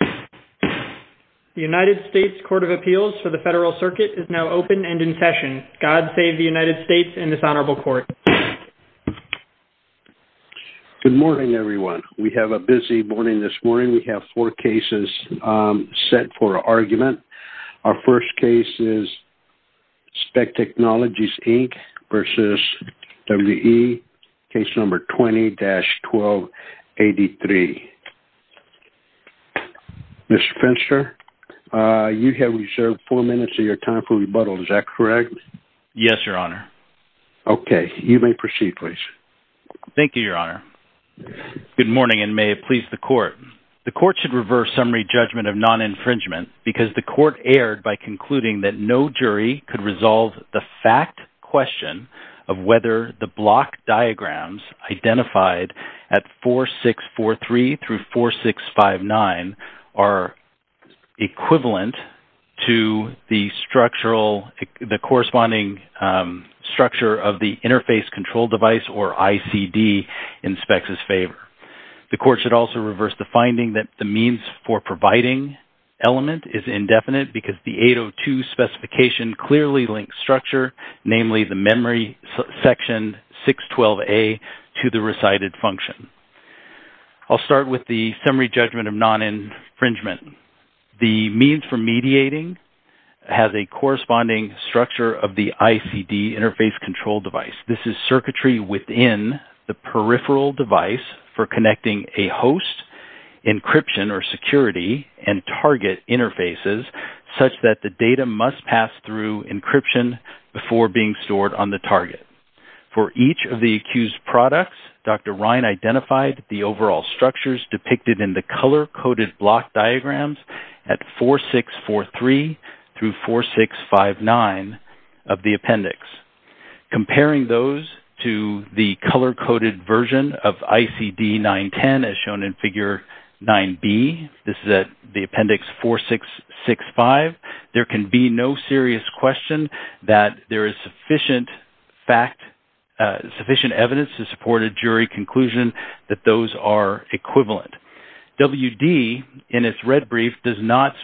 The United States Court of Appeals for the Federal Circuit is now open and in session. God save the United States and this honorable court. Good morning, everyone. We have a busy morning this morning. We have four cases set for argument. Our first case is SPECT Technologies, Inc. v. WE, case number 20-1283. Mr. Finster, you have reserved four minutes of your time for rebuttal. Is that correct? Yes, Your Honor. Okay. You may proceed, please. Thank you, Your Honor. Good morning and may it please the court. The court should reverse summary judgment of non-infringement because the court erred by concluding that no jury could resolve the fact question of whether the block diagrams identified at 4643-4659 are equivalent to the corresponding structure of the interface control device or ICD in SPECT's favor. The court should also reverse the finding that the means for providing element is indefinite because the 802 specification clearly links structure, namely the memory section 612A, to the recited function. I'll start with the summary judgment of non-infringement. The means for mediating has a corresponding structure of the ICD interface control device. This is circuitry within the peripheral device for connecting a host, encryption or security, and target interfaces such that the data must pass through encryption before being stored on the target. For each of the accused products, Dr. Ryan identified the overall structures depicted in the color-coded block diagrams at 4643-4659 of the appendix. sufficient evidence to support a jury conclusion that those are equivalent. WD, in its red brief, does not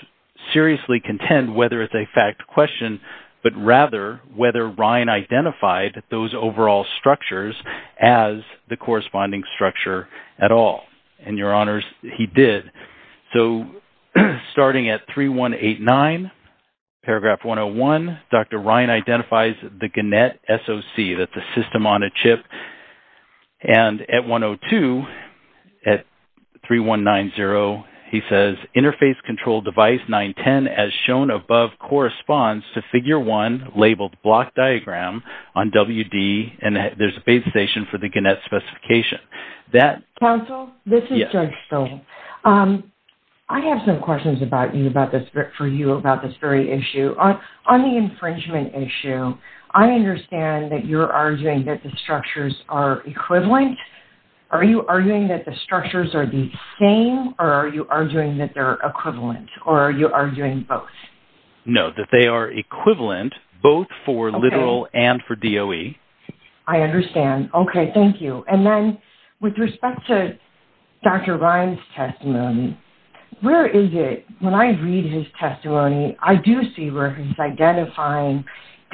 seriously contend whether it's a fact question, but rather whether Ryan identified those overall structures as the corresponding structure at all. And your honors, he did. So, starting at 3189, paragraph 101, Dr. Ryan identifies the Gannett SOC, that's the system-on-a-chip. And at 102, at 3190, he says, interface control device 910, as shown above, corresponds to figure 1 labeled block diagram on WD, and there's a base station for the Gannett specification. Counsel, this is Judge Stoll. I have some questions for you about this very issue. On the infringement issue, I understand that you're arguing that the structures are equivalent. Are you arguing that the structures are the same, or are you arguing that they're equivalent, or are you arguing both? No, that they are equivalent, both for literal and for DOE. I understand. Okay, thank you. And then, with respect to Dr. Ryan's testimony, where is it, when I read his testimony, I do see where he's identifying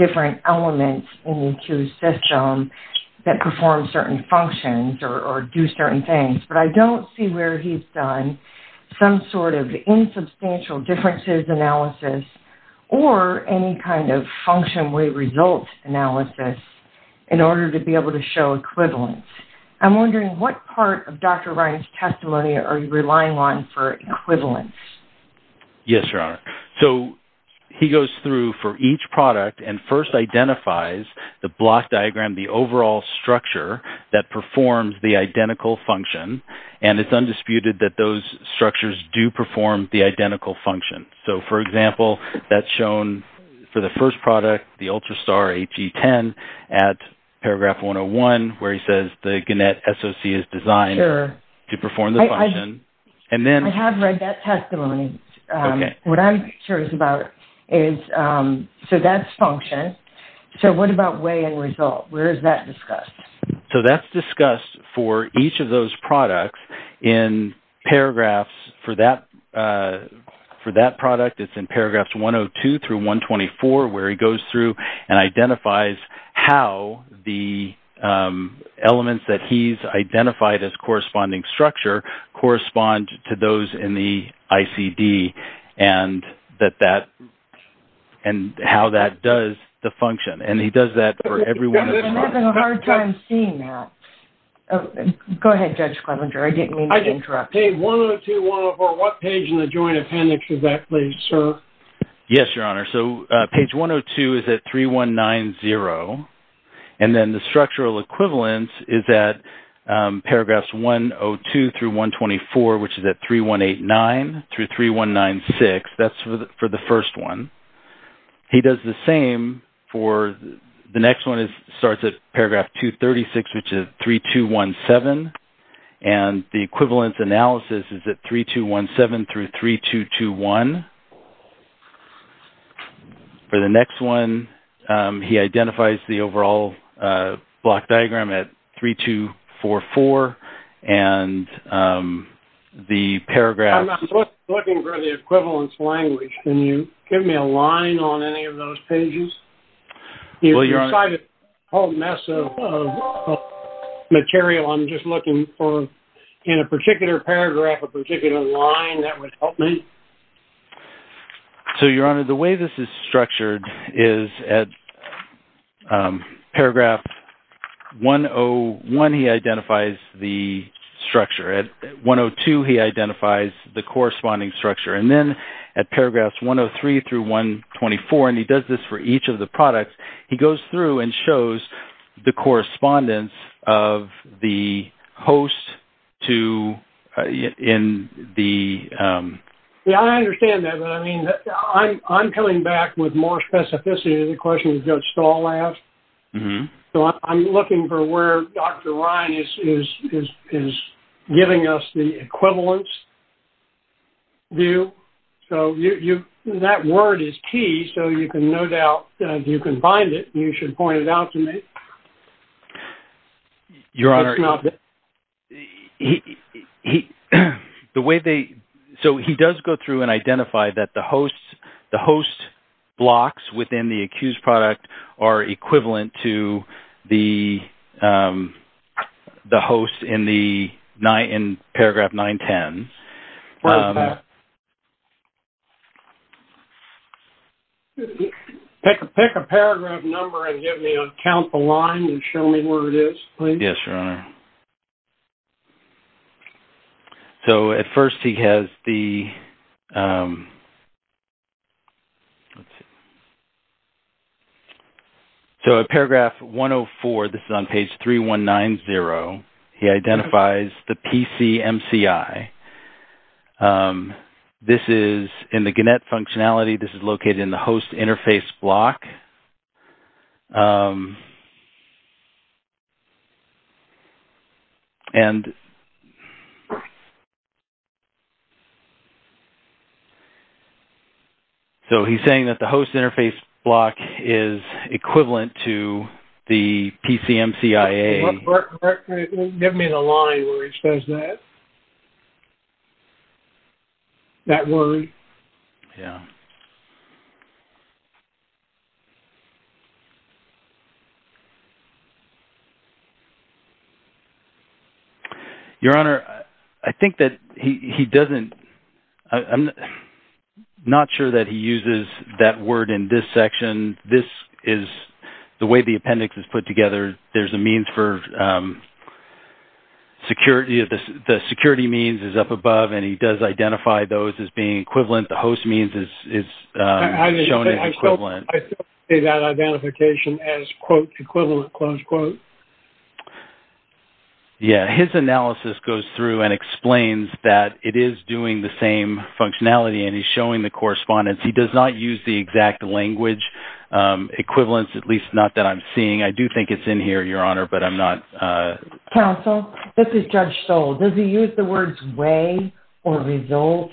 different elements in the acute system that perform certain functions or do certain things. But I don't see where he's done some sort of insubstantial differences analysis or any kind of function-way result analysis in order to be able to show equivalence. I'm wondering, what part of Dr. Ryan's testimony are you relying on for equivalence? Yes, Your Honor. So, he goes through for each product and first identifies the block diagram, the overall structure that performs the identical function, and it's undisputed that those structures do perform the identical function. So, for example, that's shown for the first product, the Ultrastar HE10 at paragraph 101, where he says the Gannett SOC is designed to perform the function. I have read that testimony. What I'm curious about is, so that's function. So, what about way and result? Where is that discussed? So, that's discussed for each of those products in paragraphs. For that product, it's in paragraphs 102 through 124, where he goes through and identifies how the elements that he's identified as corresponding structure correspond to those in the ICD and how that does the function. I'm having a hard time seeing that. Go ahead, Judge Clemenger. I didn't mean to interrupt. Page 102-104, what page in the joint appendix is that, please, sir? Yes, Your Honor. So, page 102 is at 3190, and then the structural equivalence is at paragraphs 102 through 124, which is at 3189 through 3196. That's for the first one. He does the same for the next one. It starts at paragraph 236, which is 3217, and the equivalence analysis is at 3217 through 3221. For the next one, he identifies the overall block diagram at 3244, and the paragraph... I don't see a line on any of those pages. Well, Your Honor... It's a whole mess of material. I'm just looking for, in a particular paragraph, a particular line that would help me. So, Your Honor, the way this is structured is at paragraph 101, he identifies the structure. At 102, he identifies the corresponding structure. And then at paragraphs 103 through 124, and he does this for each of the products, he goes through and shows the correspondence of the host to... Yeah, I understand that, but I'm coming back with more specificity to the question that Judge Stahl asked. So, I'm looking for where Dr. Ryan is giving us the equivalence view. So, that word is key, so you can no doubt, if you can find it, you should point it out to me. Your Honor... So, he does go through and identify that the host blocks within the accused product are equivalent to the host in paragraph 910. Pick a paragraph number and give me a count the line and show me where it is, please. Yes, Your Honor. So, at first, he has the... So, at paragraph 104, this is on page 3190, he identifies the PCMCI. This is in the Gannett functionality. This is located in the host interface block. And... So, he's saying that the host interface block is equivalent to the PCMCIA. Give me the line where it says that. That word. Yeah. Your Honor, I think that he doesn't... I'm not sure that he uses that word in this section. This is the way the appendix is put together. There's a means for security. The security means is up above, and he does identify those as being equivalent. The host means is shown as equivalent. I don't see that identification as, quote, equivalent, close quote. Yeah, his analysis goes through and explains that it is doing the same functionality, and he's showing the correspondence. He does not use the exact language equivalence, at least not that I'm seeing. I do think it's in here, Your Honor, but I'm not... Counsel, this is Judge Stoll. Does he use the words way or result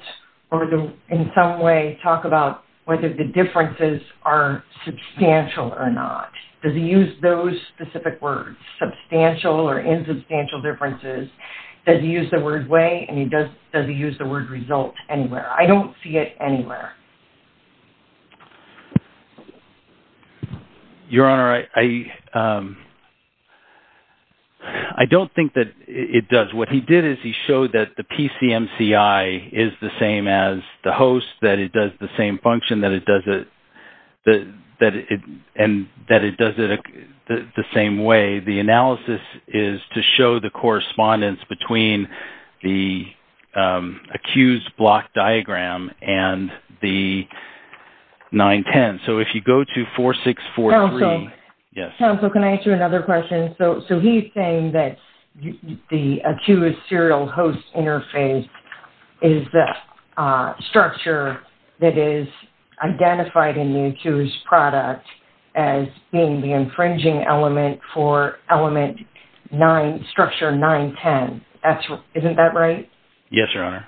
or, in some way, talk about whether the differences are substantial or not? Does he use those specific words, substantial or insubstantial differences? Does he use the word way, and does he use the word result anywhere? I don't see it anywhere. Your Honor, I don't think that it does. What he did is he showed that the PCMCIA is the same as the host, that it does the same function, and that it does it the same way. The analysis is to show the correspondence between the accused block diagram and the 910. So, if you go to 4643... Counsel. Yes. Counsel, can I ask you another question? So, he's saying that the accused serial host interface is the structure that is identified in the accused product as being the infringing element for element 9, structure 910. Isn't that right? Yes, Your Honor.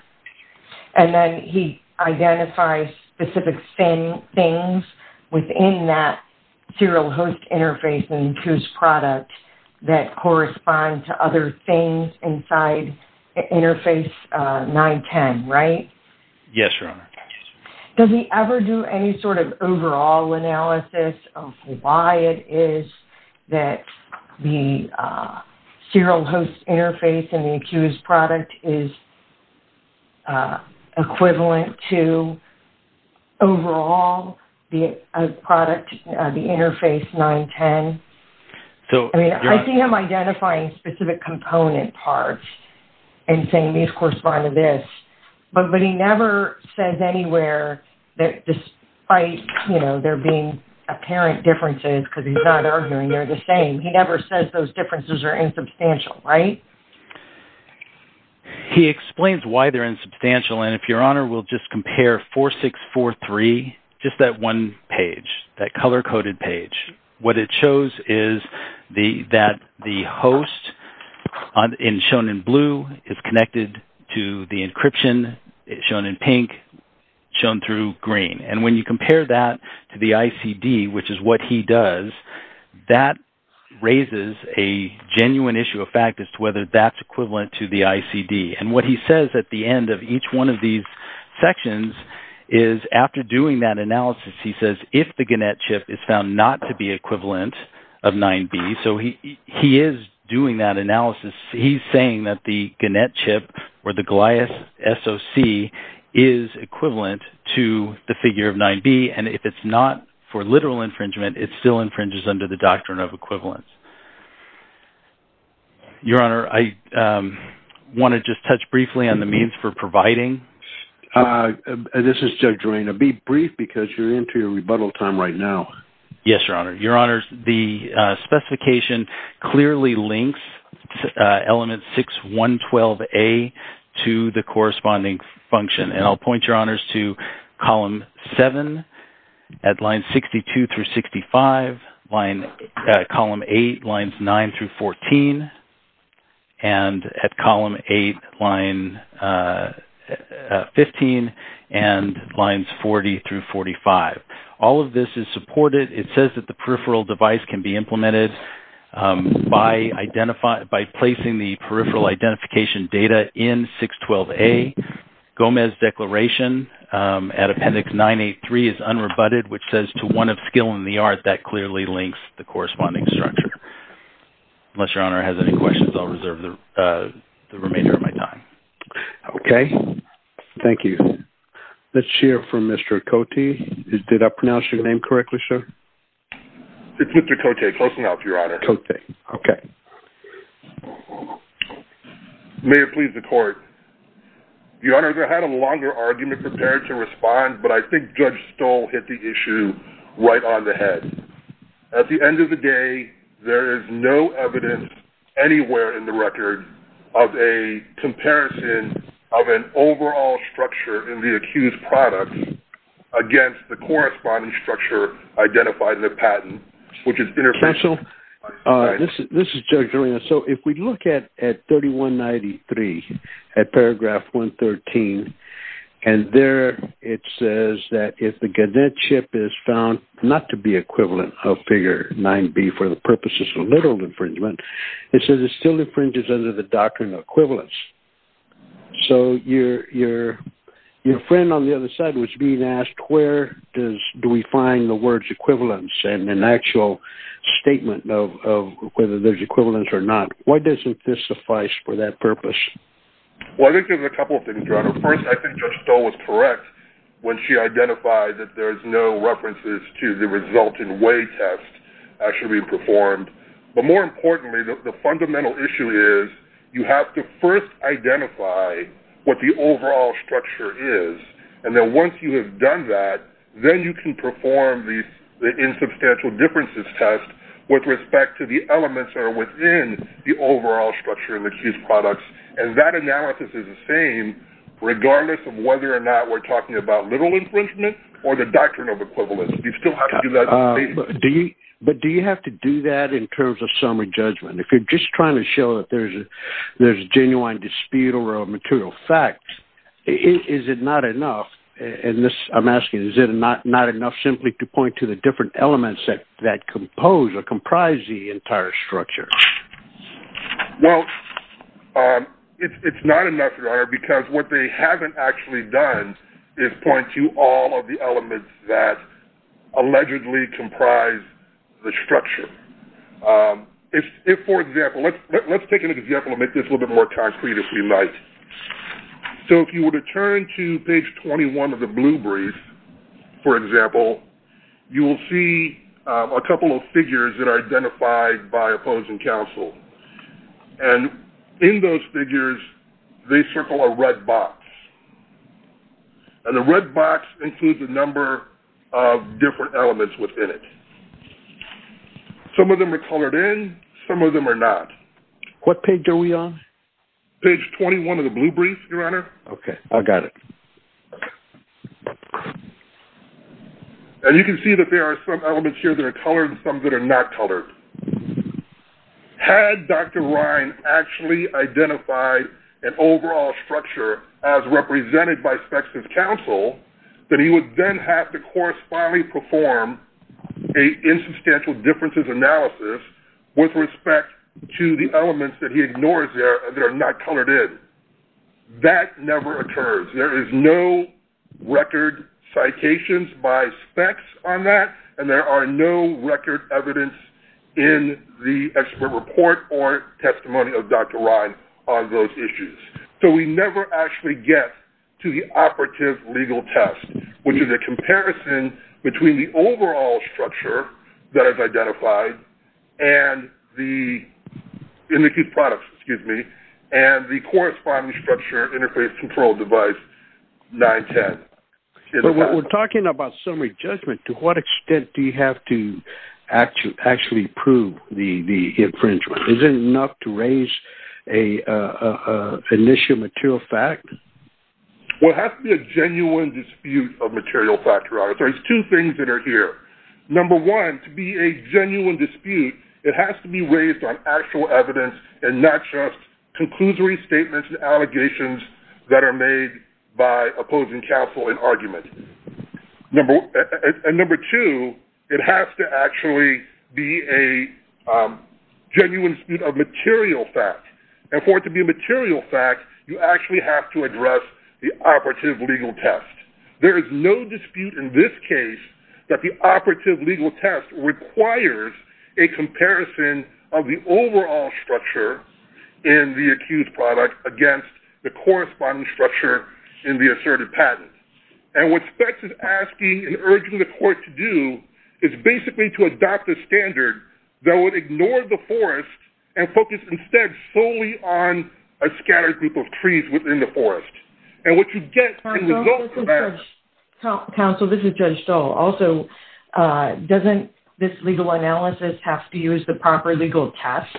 And then he identifies specific things within that serial host interface in the accused product that correspond to other things inside interface 910, right? Yes, Your Honor. Does he ever do any sort of overall analysis of why it is that the serial host interface in the accused product is equivalent to overall the product, the interface 910? I mean, I see him identifying specific component parts and saying these correspond to this, but he never says anywhere that despite, you know, there being apparent differences, because he's not arguing they're the same, he never says those differences are insubstantial, right? He explains why they're insubstantial, and if Your Honor will just compare 4643, just that one page, that color-coded page, what it shows is that the host, shown in blue, is connected to the encryption, shown in pink, shown through green. And when you compare that to the ICD, which is what he does, that raises a genuine issue of fact as to whether that's equivalent to the ICD. And what he says at the end of each one of these sections is after doing that analysis, he says if the Gannett chip is found not to be equivalent of 9B, so he is doing that analysis. He's saying that the Gannett chip or the Goliath SOC is equivalent to the figure of 9B, and if it's not for literal infringement, it still infringes under the doctrine of equivalence. Your Honor, I want to just touch briefly on the means for providing. This is Judge Reina. Be brief because you're into your rebuttal time right now. Yes, Your Honor. Your Honor, the specification clearly links element 6112A to the corresponding function, and I'll point, Your Honors, to column 7 at lines 62 through 65, column 8, lines 9 through 14, and at column 8, line 15, and lines 40 through 45. All of this is supported. It says that the peripheral device can be implemented by placing the peripheral identification data in 612A. Gomez declaration at appendix 983 is unrebutted, which says to one of skill in the art that clearly links the corresponding structure. Unless Your Honor has any questions, I'll reserve the remainder of my time. Okay. Thank you. Let's hear from Mr. Cote. Did I pronounce your name correctly, sir? It's Mr. Cote, close enough, Your Honor. Cote. Okay. May it please the Court. Your Honor, I had a longer argument prepared to respond, but I think Judge Stoll hit the issue right on the head. At the end of the day, there is no evidence anywhere in the record of a comparison of an overall structure in the accused product against the corresponding structure identified in the patent, which is interfacial. This is Judge Dorena. So if we look at 3193, at paragraph 113, and there it says that if the Gannett chip is found not to be equivalent of figure 9B for the purposes of literal infringement, it says it still infringes under the doctrine of equivalence. So your friend on the other side was being asked where do we find the words equivalence and an actual statement of whether there's equivalence or not. Why doesn't this suffice for that purpose? Well, I think there's a couple of things, Your Honor. First, I think Judge Stoll was correct when she identified that there's no references to the resulting weigh test actually being performed. But more importantly, the fundamental issue is you have to first identify what the overall structure is, and then once you have done that, then you can perform the insubstantial differences test with respect to the elements that are within the overall structure of the accused products. And that analysis is the same regardless of whether or not we're talking about literal infringement or the doctrine of equivalence. You still have to do that. But do you have to do that in terms of summary judgment? If you're just trying to show that there's genuine dispute over a material fact, is it not enough? And I'm asking, is it not enough simply to point to the different elements that compose or comprise the entire structure? Well, it's not enough, Your Honor, because what they haven't actually done is point to all of the elements that allegedly comprise the structure. For example, let's take an example and make this a little bit more concrete if we might. So if you were to turn to page 21 of the blue brief, for example, you will see a couple of figures that are identified by opposing counsel. And in those figures, they circle a red box. And the red box includes a number of different elements within it. Some of them are colored in, some of them are not. What page are we on? Page 21 of the blue brief, Your Honor. Okay, I got it. And you can see that there are some elements here that are colored and some that are not colored. Had Dr. Ryan actually identified an overall structure as represented by specs of counsel, that he would then have to correspondingly perform an insubstantial differences analysis with respect to the elements that he ignores that are not colored in. That never occurs. There is no record citations by specs on that, and there are no record evidence in the expert report or testimony of Dr. Ryan on those issues. So we never actually get to the operative legal test, which is a comparison between the overall structure that is identified and the corresponding structure interface control device, 910. We're talking about summary judgment. To what extent do you have to actually prove the infringement? Is it enough to raise an initial material fact? Well, it has to be a genuine dispute of material factor. There are two things that are here. Number one, to be a genuine dispute, it has to be raised on actual evidence and not just conclusory statements and allegations that are made by opposing counsel in argument. And number two, it has to actually be a genuine dispute of material fact. And for it to be a material fact, you actually have to address the operative legal test. There is no dispute in this case that the operative legal test requires a comparison of the overall structure in the accused product against the corresponding structure in the asserted patent. And what SPECS is asking and urging the court to do is basically to adopt a standard that would ignore the forest and focus instead solely on a scattered group of trees within the forest. And what you get as a result of that... Counsel, this is Judge Stoll. Counsel, also, doesn't this legal analysis have to use the proper legal test,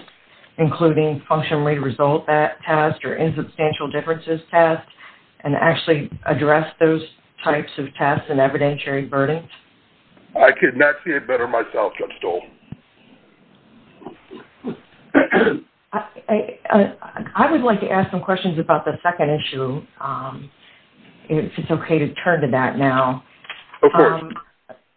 including function rate result test or insubstantial differences test, and actually address those types of tests and evidentiary burdens? I could not see it better myself, Judge Stoll. I would like to ask some questions about the second issue, if it's okay to turn to that now. Of course.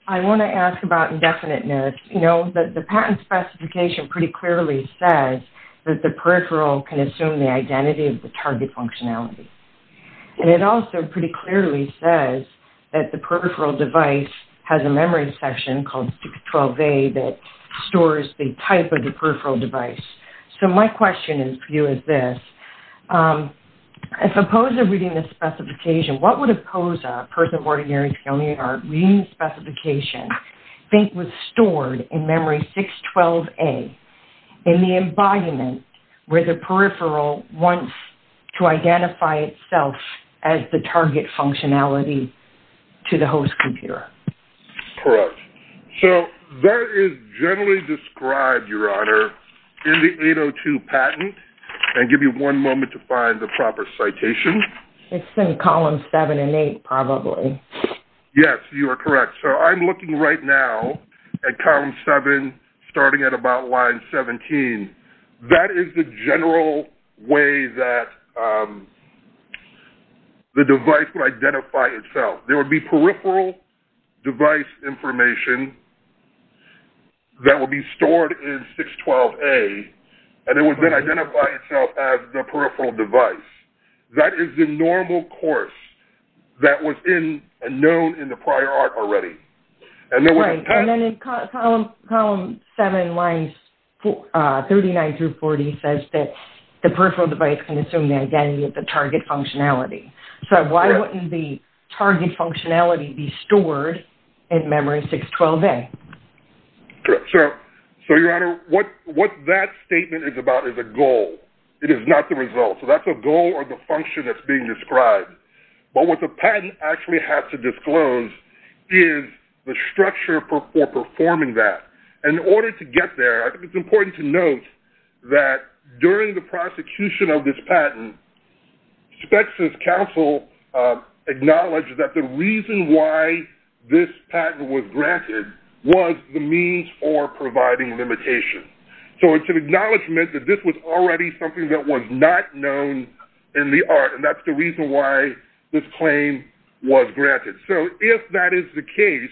I want to ask about indefiniteness. You know, the patent specification pretty clearly says that the peripheral can assume the identity of the target functionality. And it also pretty clearly says that the peripheral device has a memory section called 612A that stores the type of the peripheral device. So my question for you is this. If a POSA reading this specification, what would a POSA, person of ordinary family or reading specification, think was stored in memory 612A in the embodiment where the peripheral wants to identify itself as the target functionality to the host computer? Correct. So that is generally described, Your Honor, in the 802 patent. I'll give you one moment to find the proper citation. It's in columns 7 and 8 probably. Yes, you are correct. So I'm looking right now at column 7, starting at about line 17. That is the general way that the device would identify itself. There would be peripheral device information that would be stored in 612A, and it would then identify itself as the peripheral device. That is the normal course that was known in the prior art already. Right. And then in column 7, lines 39 through 40, says that the peripheral device can assume the identity of the target functionality. So why wouldn't the target functionality be stored in memory 612A? Correct. So, Your Honor, what that statement is about is a goal. It is not the result. So that's a goal or the function that's being described. But what the patent actually has to disclose is the structure for performing that. And in order to get there, I think it's important to note that during the prosecution of this patent, SPECS's counsel acknowledged that the reason why this patent was granted was the means for providing limitation. So it's an acknowledgement that this was already something that was not known in the art, and that's the reason why this claim was granted. So if that is the case,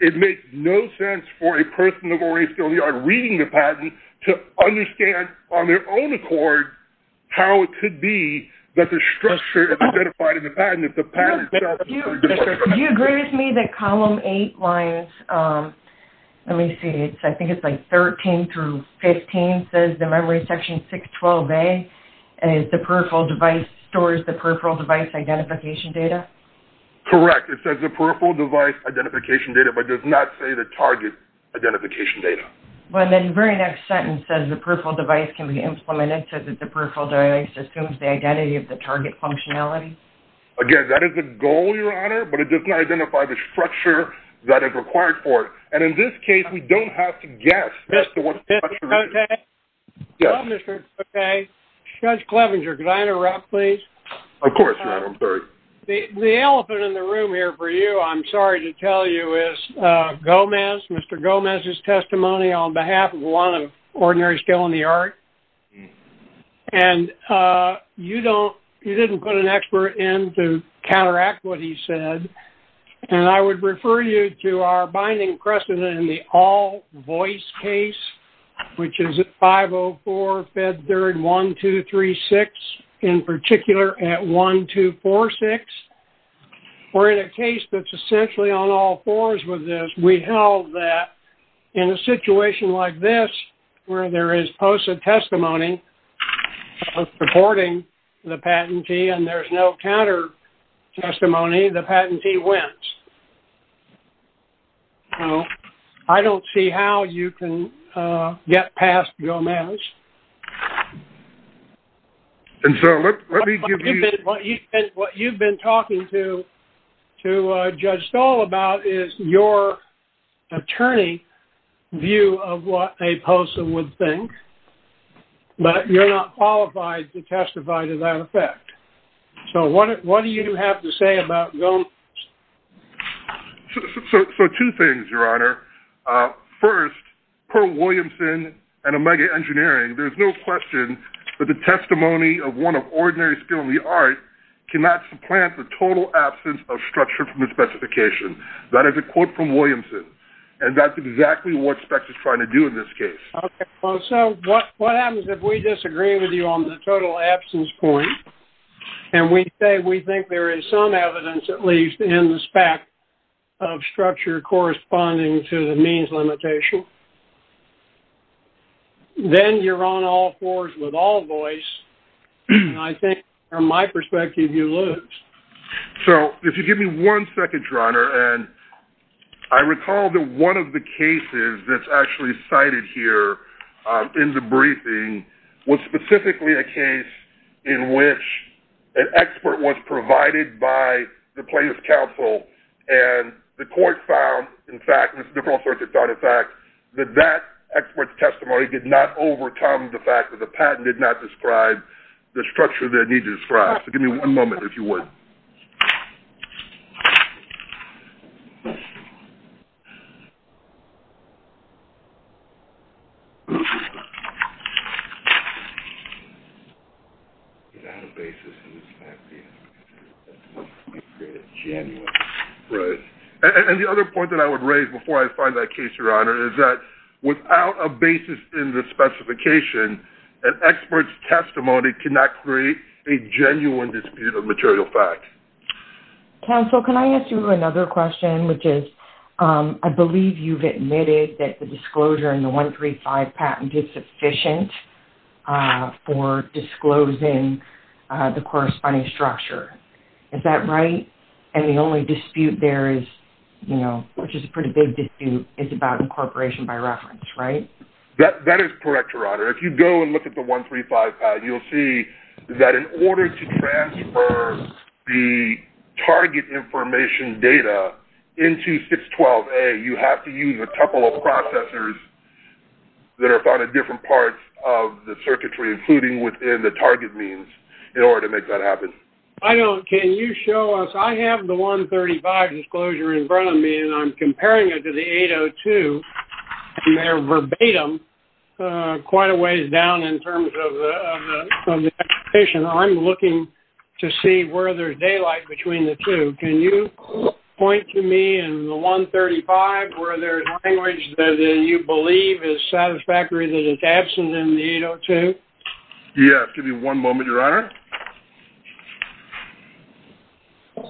it makes no sense for a person of ORA skill in the art reading the patent to understand on their own accord how it could be that the structure is identified in the patent. If the patent itself is a disclosure. Do you agree with me that column 8 lines, let me see, I think it's like 13 through 15, says the memory section 612A, the peripheral device stores the peripheral device identification data? Correct. It says the peripheral device identification data, but does not say the target identification data. The very next sentence says the peripheral device can be implemented so that the peripheral device assumes the identity of the target functionality. Again, that is the goal, Your Honor, but it does not identify the structure that is required for it. And in this case, we don't have to guess. Judge Clevenger, could I interrupt, please? Of course, Your Honor, I'm sorry. The elephant in the room here for you, I'm sorry to tell you, is Gomez, Mr. Gomez's testimony on behalf of one of Ordinary Skill in the Art. And you didn't put an expert in to counteract what he said, and I would refer you to our binding precedent in the all voice case, which is at 504-Fed3-1236, in particular at 1246. We're in a case that's essentially on all fours with this. We held that in a situation like this, where there is posted testimony supporting the patentee and there's no counter-testimony, the patentee wins. I don't see how you can get past Gomez. And so let me give you... And what you've been talking to Judge Stahl about is your attorney view of what a POSA would think, but you're not qualified to testify to that effect. So what do you have to say about Gomez? So two things, Your Honor. First, per Williamson and Omega Engineering, there's no question that the testimony of one of Ordinary Skill in the Art cannot supplant the total absence of structure from the specification. That is a quote from Williamson, and that's exactly what SPECT is trying to do in this case. Okay. So what happens if we disagree with you on the total absence point, and we say we think there is some evidence, at least in the SPECT, of structure corresponding to the means limitation? Then you're on all fours with all voice, and I think from my perspective you lose. So if you give me one second, Your Honor, and I recall that one of the cases that's actually cited here in the And the court found, in fact, that that expert's testimony did not overcome the fact that the patent did not describe the structure that it needed to describe. So give me one moment, if you would. Right. And the other point that I would raise before I find that case, Your Honor, is that without a basis in the specification, an expert's testimony cannot create a genuine dispute of material fact. Counsel, can I ask you another question, which is, I believe you've admitted that the disclosure in the 135 patent is sufficient for disclosing the corresponding structure. Is that right? And the only dispute there is, which is a pretty big dispute, is about incorporation by reference, right? That is correct, Your Honor. If you go and look at the 135 patent, you'll see that in order to transfer the target information data into 612A, you have to use a couple of processors that are found at different parts of the circuitry, including within the target means, in order to make that happen. I don't. Can you show us? I have the 135 disclosure in front of me, and I'm comparing it to the 802, and they're verbatim quite a ways down in terms of the expectation. I'm looking to see where there's daylight between the two. Can you point to me in the 135 where there's language that you believe is satisfactory that it's absent in the 802? Yes, give me one moment, Your Honor. So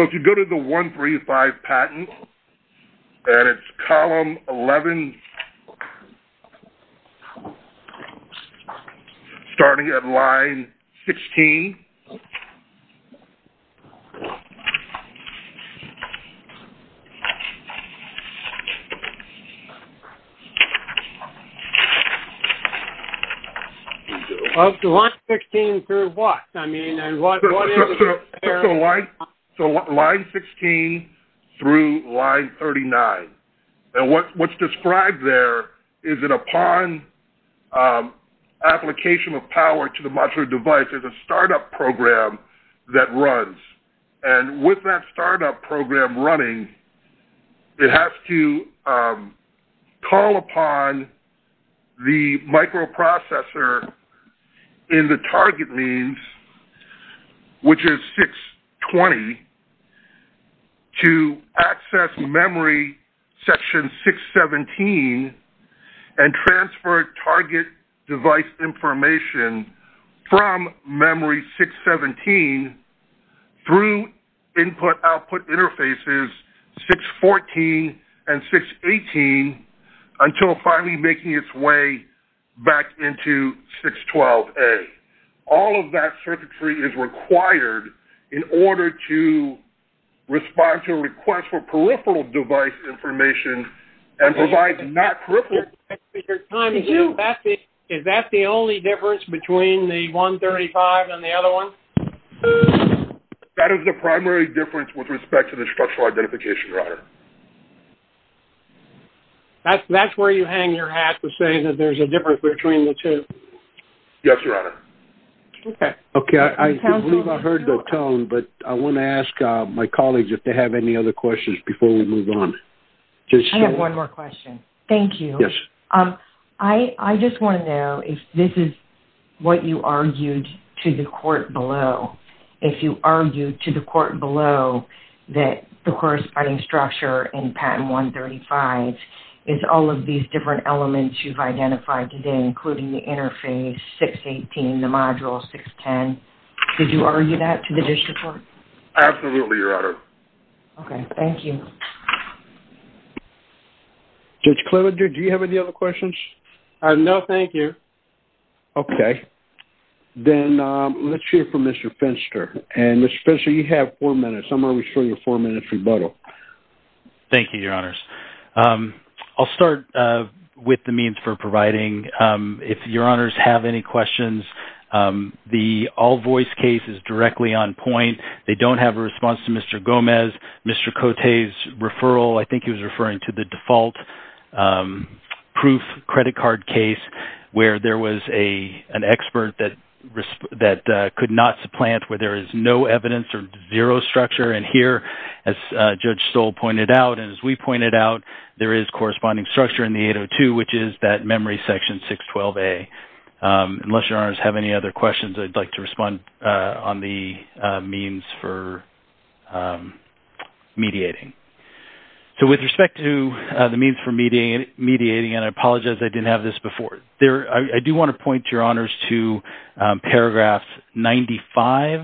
if you go to the 135 patent, and it's column 11, starting at line 16, line 16 through what? So line 16 through line 39. And what's described there is that upon application of power to the modular device, there's a startup program that runs. And with that startup program running, it has to call upon the microprocessor in the target means, which is 620, to access memory section 617 and transfer target device information from memory 617 through input, output interfaces 614 and 618 until finally making its way back into 612A. All of that circuitry is required in order to respond to a request for peripheral device information and provide not peripheral. Is that the only difference between the 135 and the other one? That is the primary difference with respect to the structural identification, Your Honor. That's where you hang your hat to say that there's a difference between the two. Yes, Your Honor. Okay. I believe I heard the tone, but I want to ask my colleagues if they have any other questions before we move on. I have one more question. Thank you. Yes. I just want to know if this is what you argued to the court below. If you argued to the court below that the corresponding structure in patent 135 is all of these different elements you've identified today, including the interface 618, the module 610. Did you argue that to the district court? Absolutely, Your Honor. Okay. Thank you. Mr. Klinger, do you have any other questions? No, thank you. Okay. Then let's hear from Mr. Finster. Mr. Finster, you have four minutes. I'm going to show you a four-minute rebuttal. Thank you, Your Honors. I'll start with the means for providing. If Your Honors have any questions, the all-voice case is directly on point. They don't have a response to Mr. Gomez, Mr. Cote's referral. I think he was referring to the default. Proof credit card case where there was an expert that could not supplant where there is no evidence or zero structure. And here, as Judge Stoll pointed out and as we pointed out, there is corresponding structure in the 802, which is that memory section 612A. Unless Your Honors have any other questions, I'd like to respond on the means for mediating. So with respect to the means for mediating, and I apologize I didn't have this before, I do want to point, Your Honors, to paragraphs 95,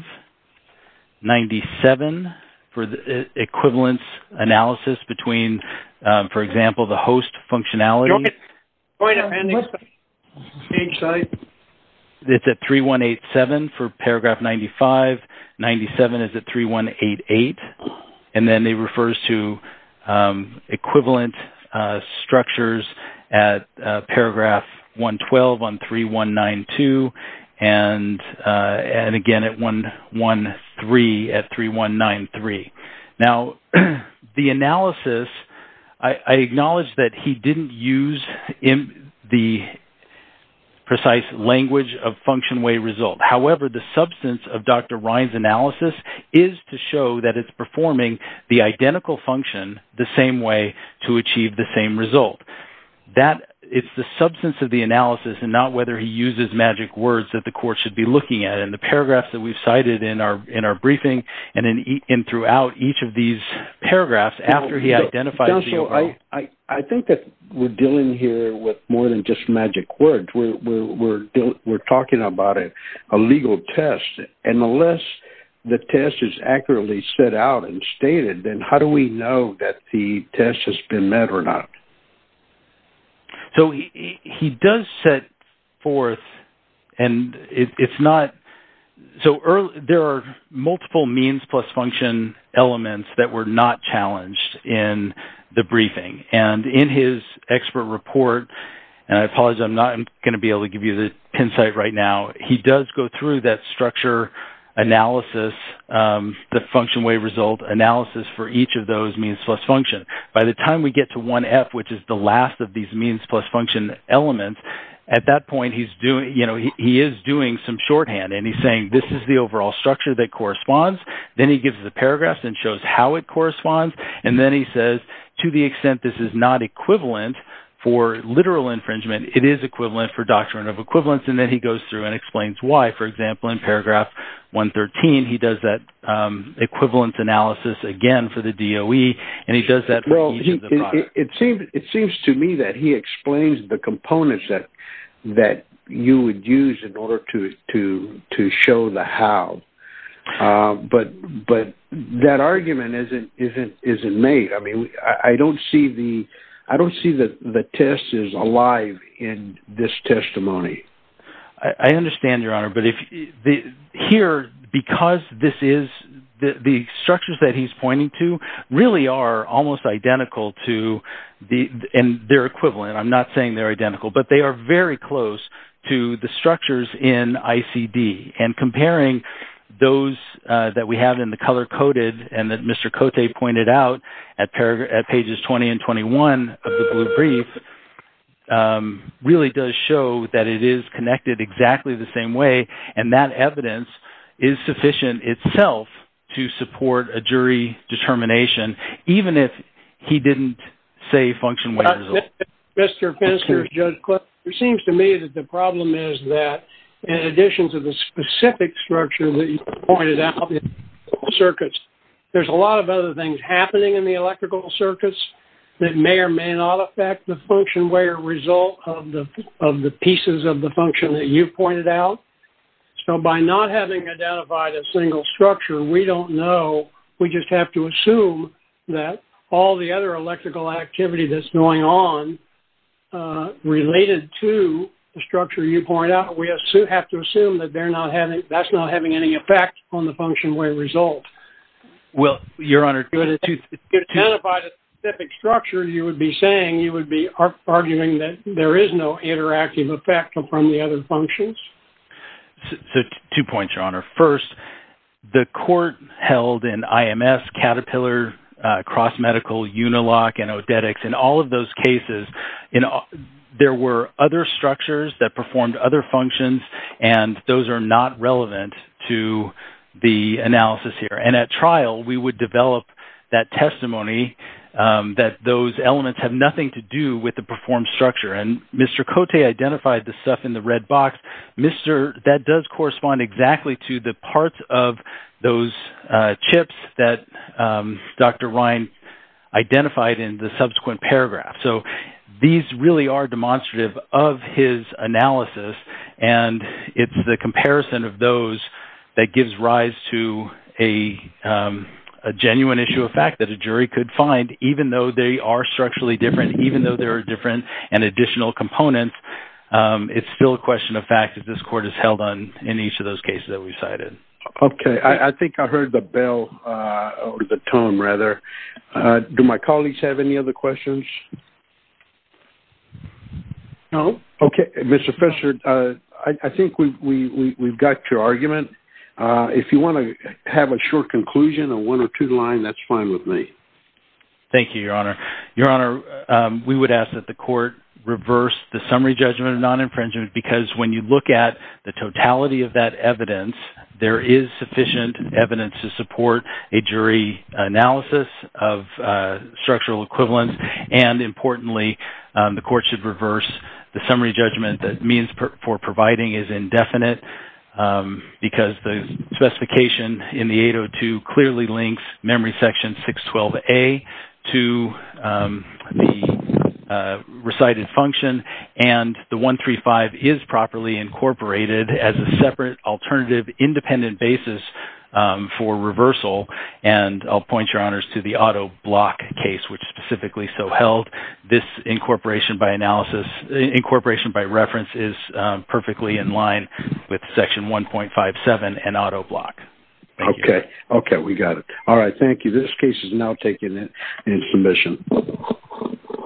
97, for the equivalence analysis between, for example, the host functionality. It's at 3187 for paragraph 95. 97 is at 3188. And then it refers to equivalent structures at paragraph 112 on 3192 and again at 113 at 3193. Now, the analysis, I acknowledge that he didn't use the precise language of function way result. However, the substance of Dr. Ryan's analysis is to show that it's performing the identical function the same way to achieve the same result. It's the substance of the analysis and not whether he uses magic words that the court should be looking at. And the paragraphs that we've cited in our briefing and throughout each of these paragraphs after he identifies the... I think that we're dealing here with more than just magic words. We're talking about a legal test. And unless the test is accurately set out and stated, then how do we know that the test has been met or not? So he does set forth, and it's not... So there are multiple means plus function elements that were not challenged in the briefing. And in his expert report, and I apologize, I'm not going to be able to give you the insight right now. He does go through that structure analysis, the function way result analysis for each of those means plus function. By the time we get to 1F, which is the last of these means plus function elements, at that point he is doing some shorthand. And he's saying this is the overall structure that corresponds. Then he gives the paragraphs and shows how it corresponds. And then he says to the extent this is not equivalent for literal infringement, it is equivalent for doctrine of equivalence. And then he goes through and explains why. For example, in paragraph 113, he does that equivalence analysis again for the DOE. And he does that for each of the products. It seems to me that he explains the components that you would use in order to show the how. But that argument isn't made. I mean, I don't see that the test is alive in this testimony. I understand, Your Honor. But here, because this is the structures that he's pointing to really are almost identical to their equivalent. I'm not saying they're identical. But they are very close to the structures in ICD. And comparing those that we have in the color-coded, and that Mr. Cote pointed out at pages 20 and 21 of the blue brief, really does show that it is connected exactly the same way. And that evidence is sufficient itself to support a jury determination, even if he didn't say function-weighted at all. Mr. Fenster, Judge Clifton, It seems to me that the problem is that, in addition to the specific structure that you pointed out, the electrical circuits, there's a lot of other things happening in the electrical circuits that may or may not affect the function-weighted result of the pieces of the function that you pointed out. So by not having identified a single structure, we don't know. We just have to assume that all the other electrical activity that's going on, related to the structure you pointed out, we have to assume that that's not having any effect on the function-weighted result. Well, Your Honor, If you identified a specific structure, you would be saying, you would be arguing that there is no interactive effect from the other functions. Two points, Your Honor. First, the court held in IMS, Caterpillar, Cross Medical, Unilock, and Odetics, in all of those cases, there were other structures that performed other functions, and those are not relevant to the analysis here. And at trial, we would develop that testimony that those elements have nothing to do with the performed structure. And Mr. Cote identified the stuff in the red box. That does correspond exactly to the parts of those chips that Dr. Ryan identified in the subsequent paragraph. So these really are demonstrative of his analysis, and it's the comparison of those that gives rise to a genuine issue of fact that a jury could find, even though they are structurally different, even though there are different and additional components. It's still a question of fact that this court has held on in each of those cases that we cited. Okay. I think I heard the bell, or the tone, rather. Do my colleagues have any other questions? No. Okay. Mr. Fisher, I think we've got your argument. If you want to have a short conclusion, a one or two line, that's fine with me. Thank you, Your Honor. Your Honor, we would ask that the court reverse the summary judgment of non-infringement because when you look at the totality of that evidence, there is sufficient evidence to support a jury analysis of structural equivalence. And importantly, the court should reverse the summary judgment that means for providing is indefinite because the specification in the 802 clearly links memory section 612A to the recited function, and the 135 is properly incorporated as a separate alternative independent basis for reversal. And I'll point, Your Honors, to the auto block case, which specifically so held. This incorporation by reference is perfectly in line with section 1.57 and auto block. Okay. We got it. All right. Thank you. This case is now taken in submission.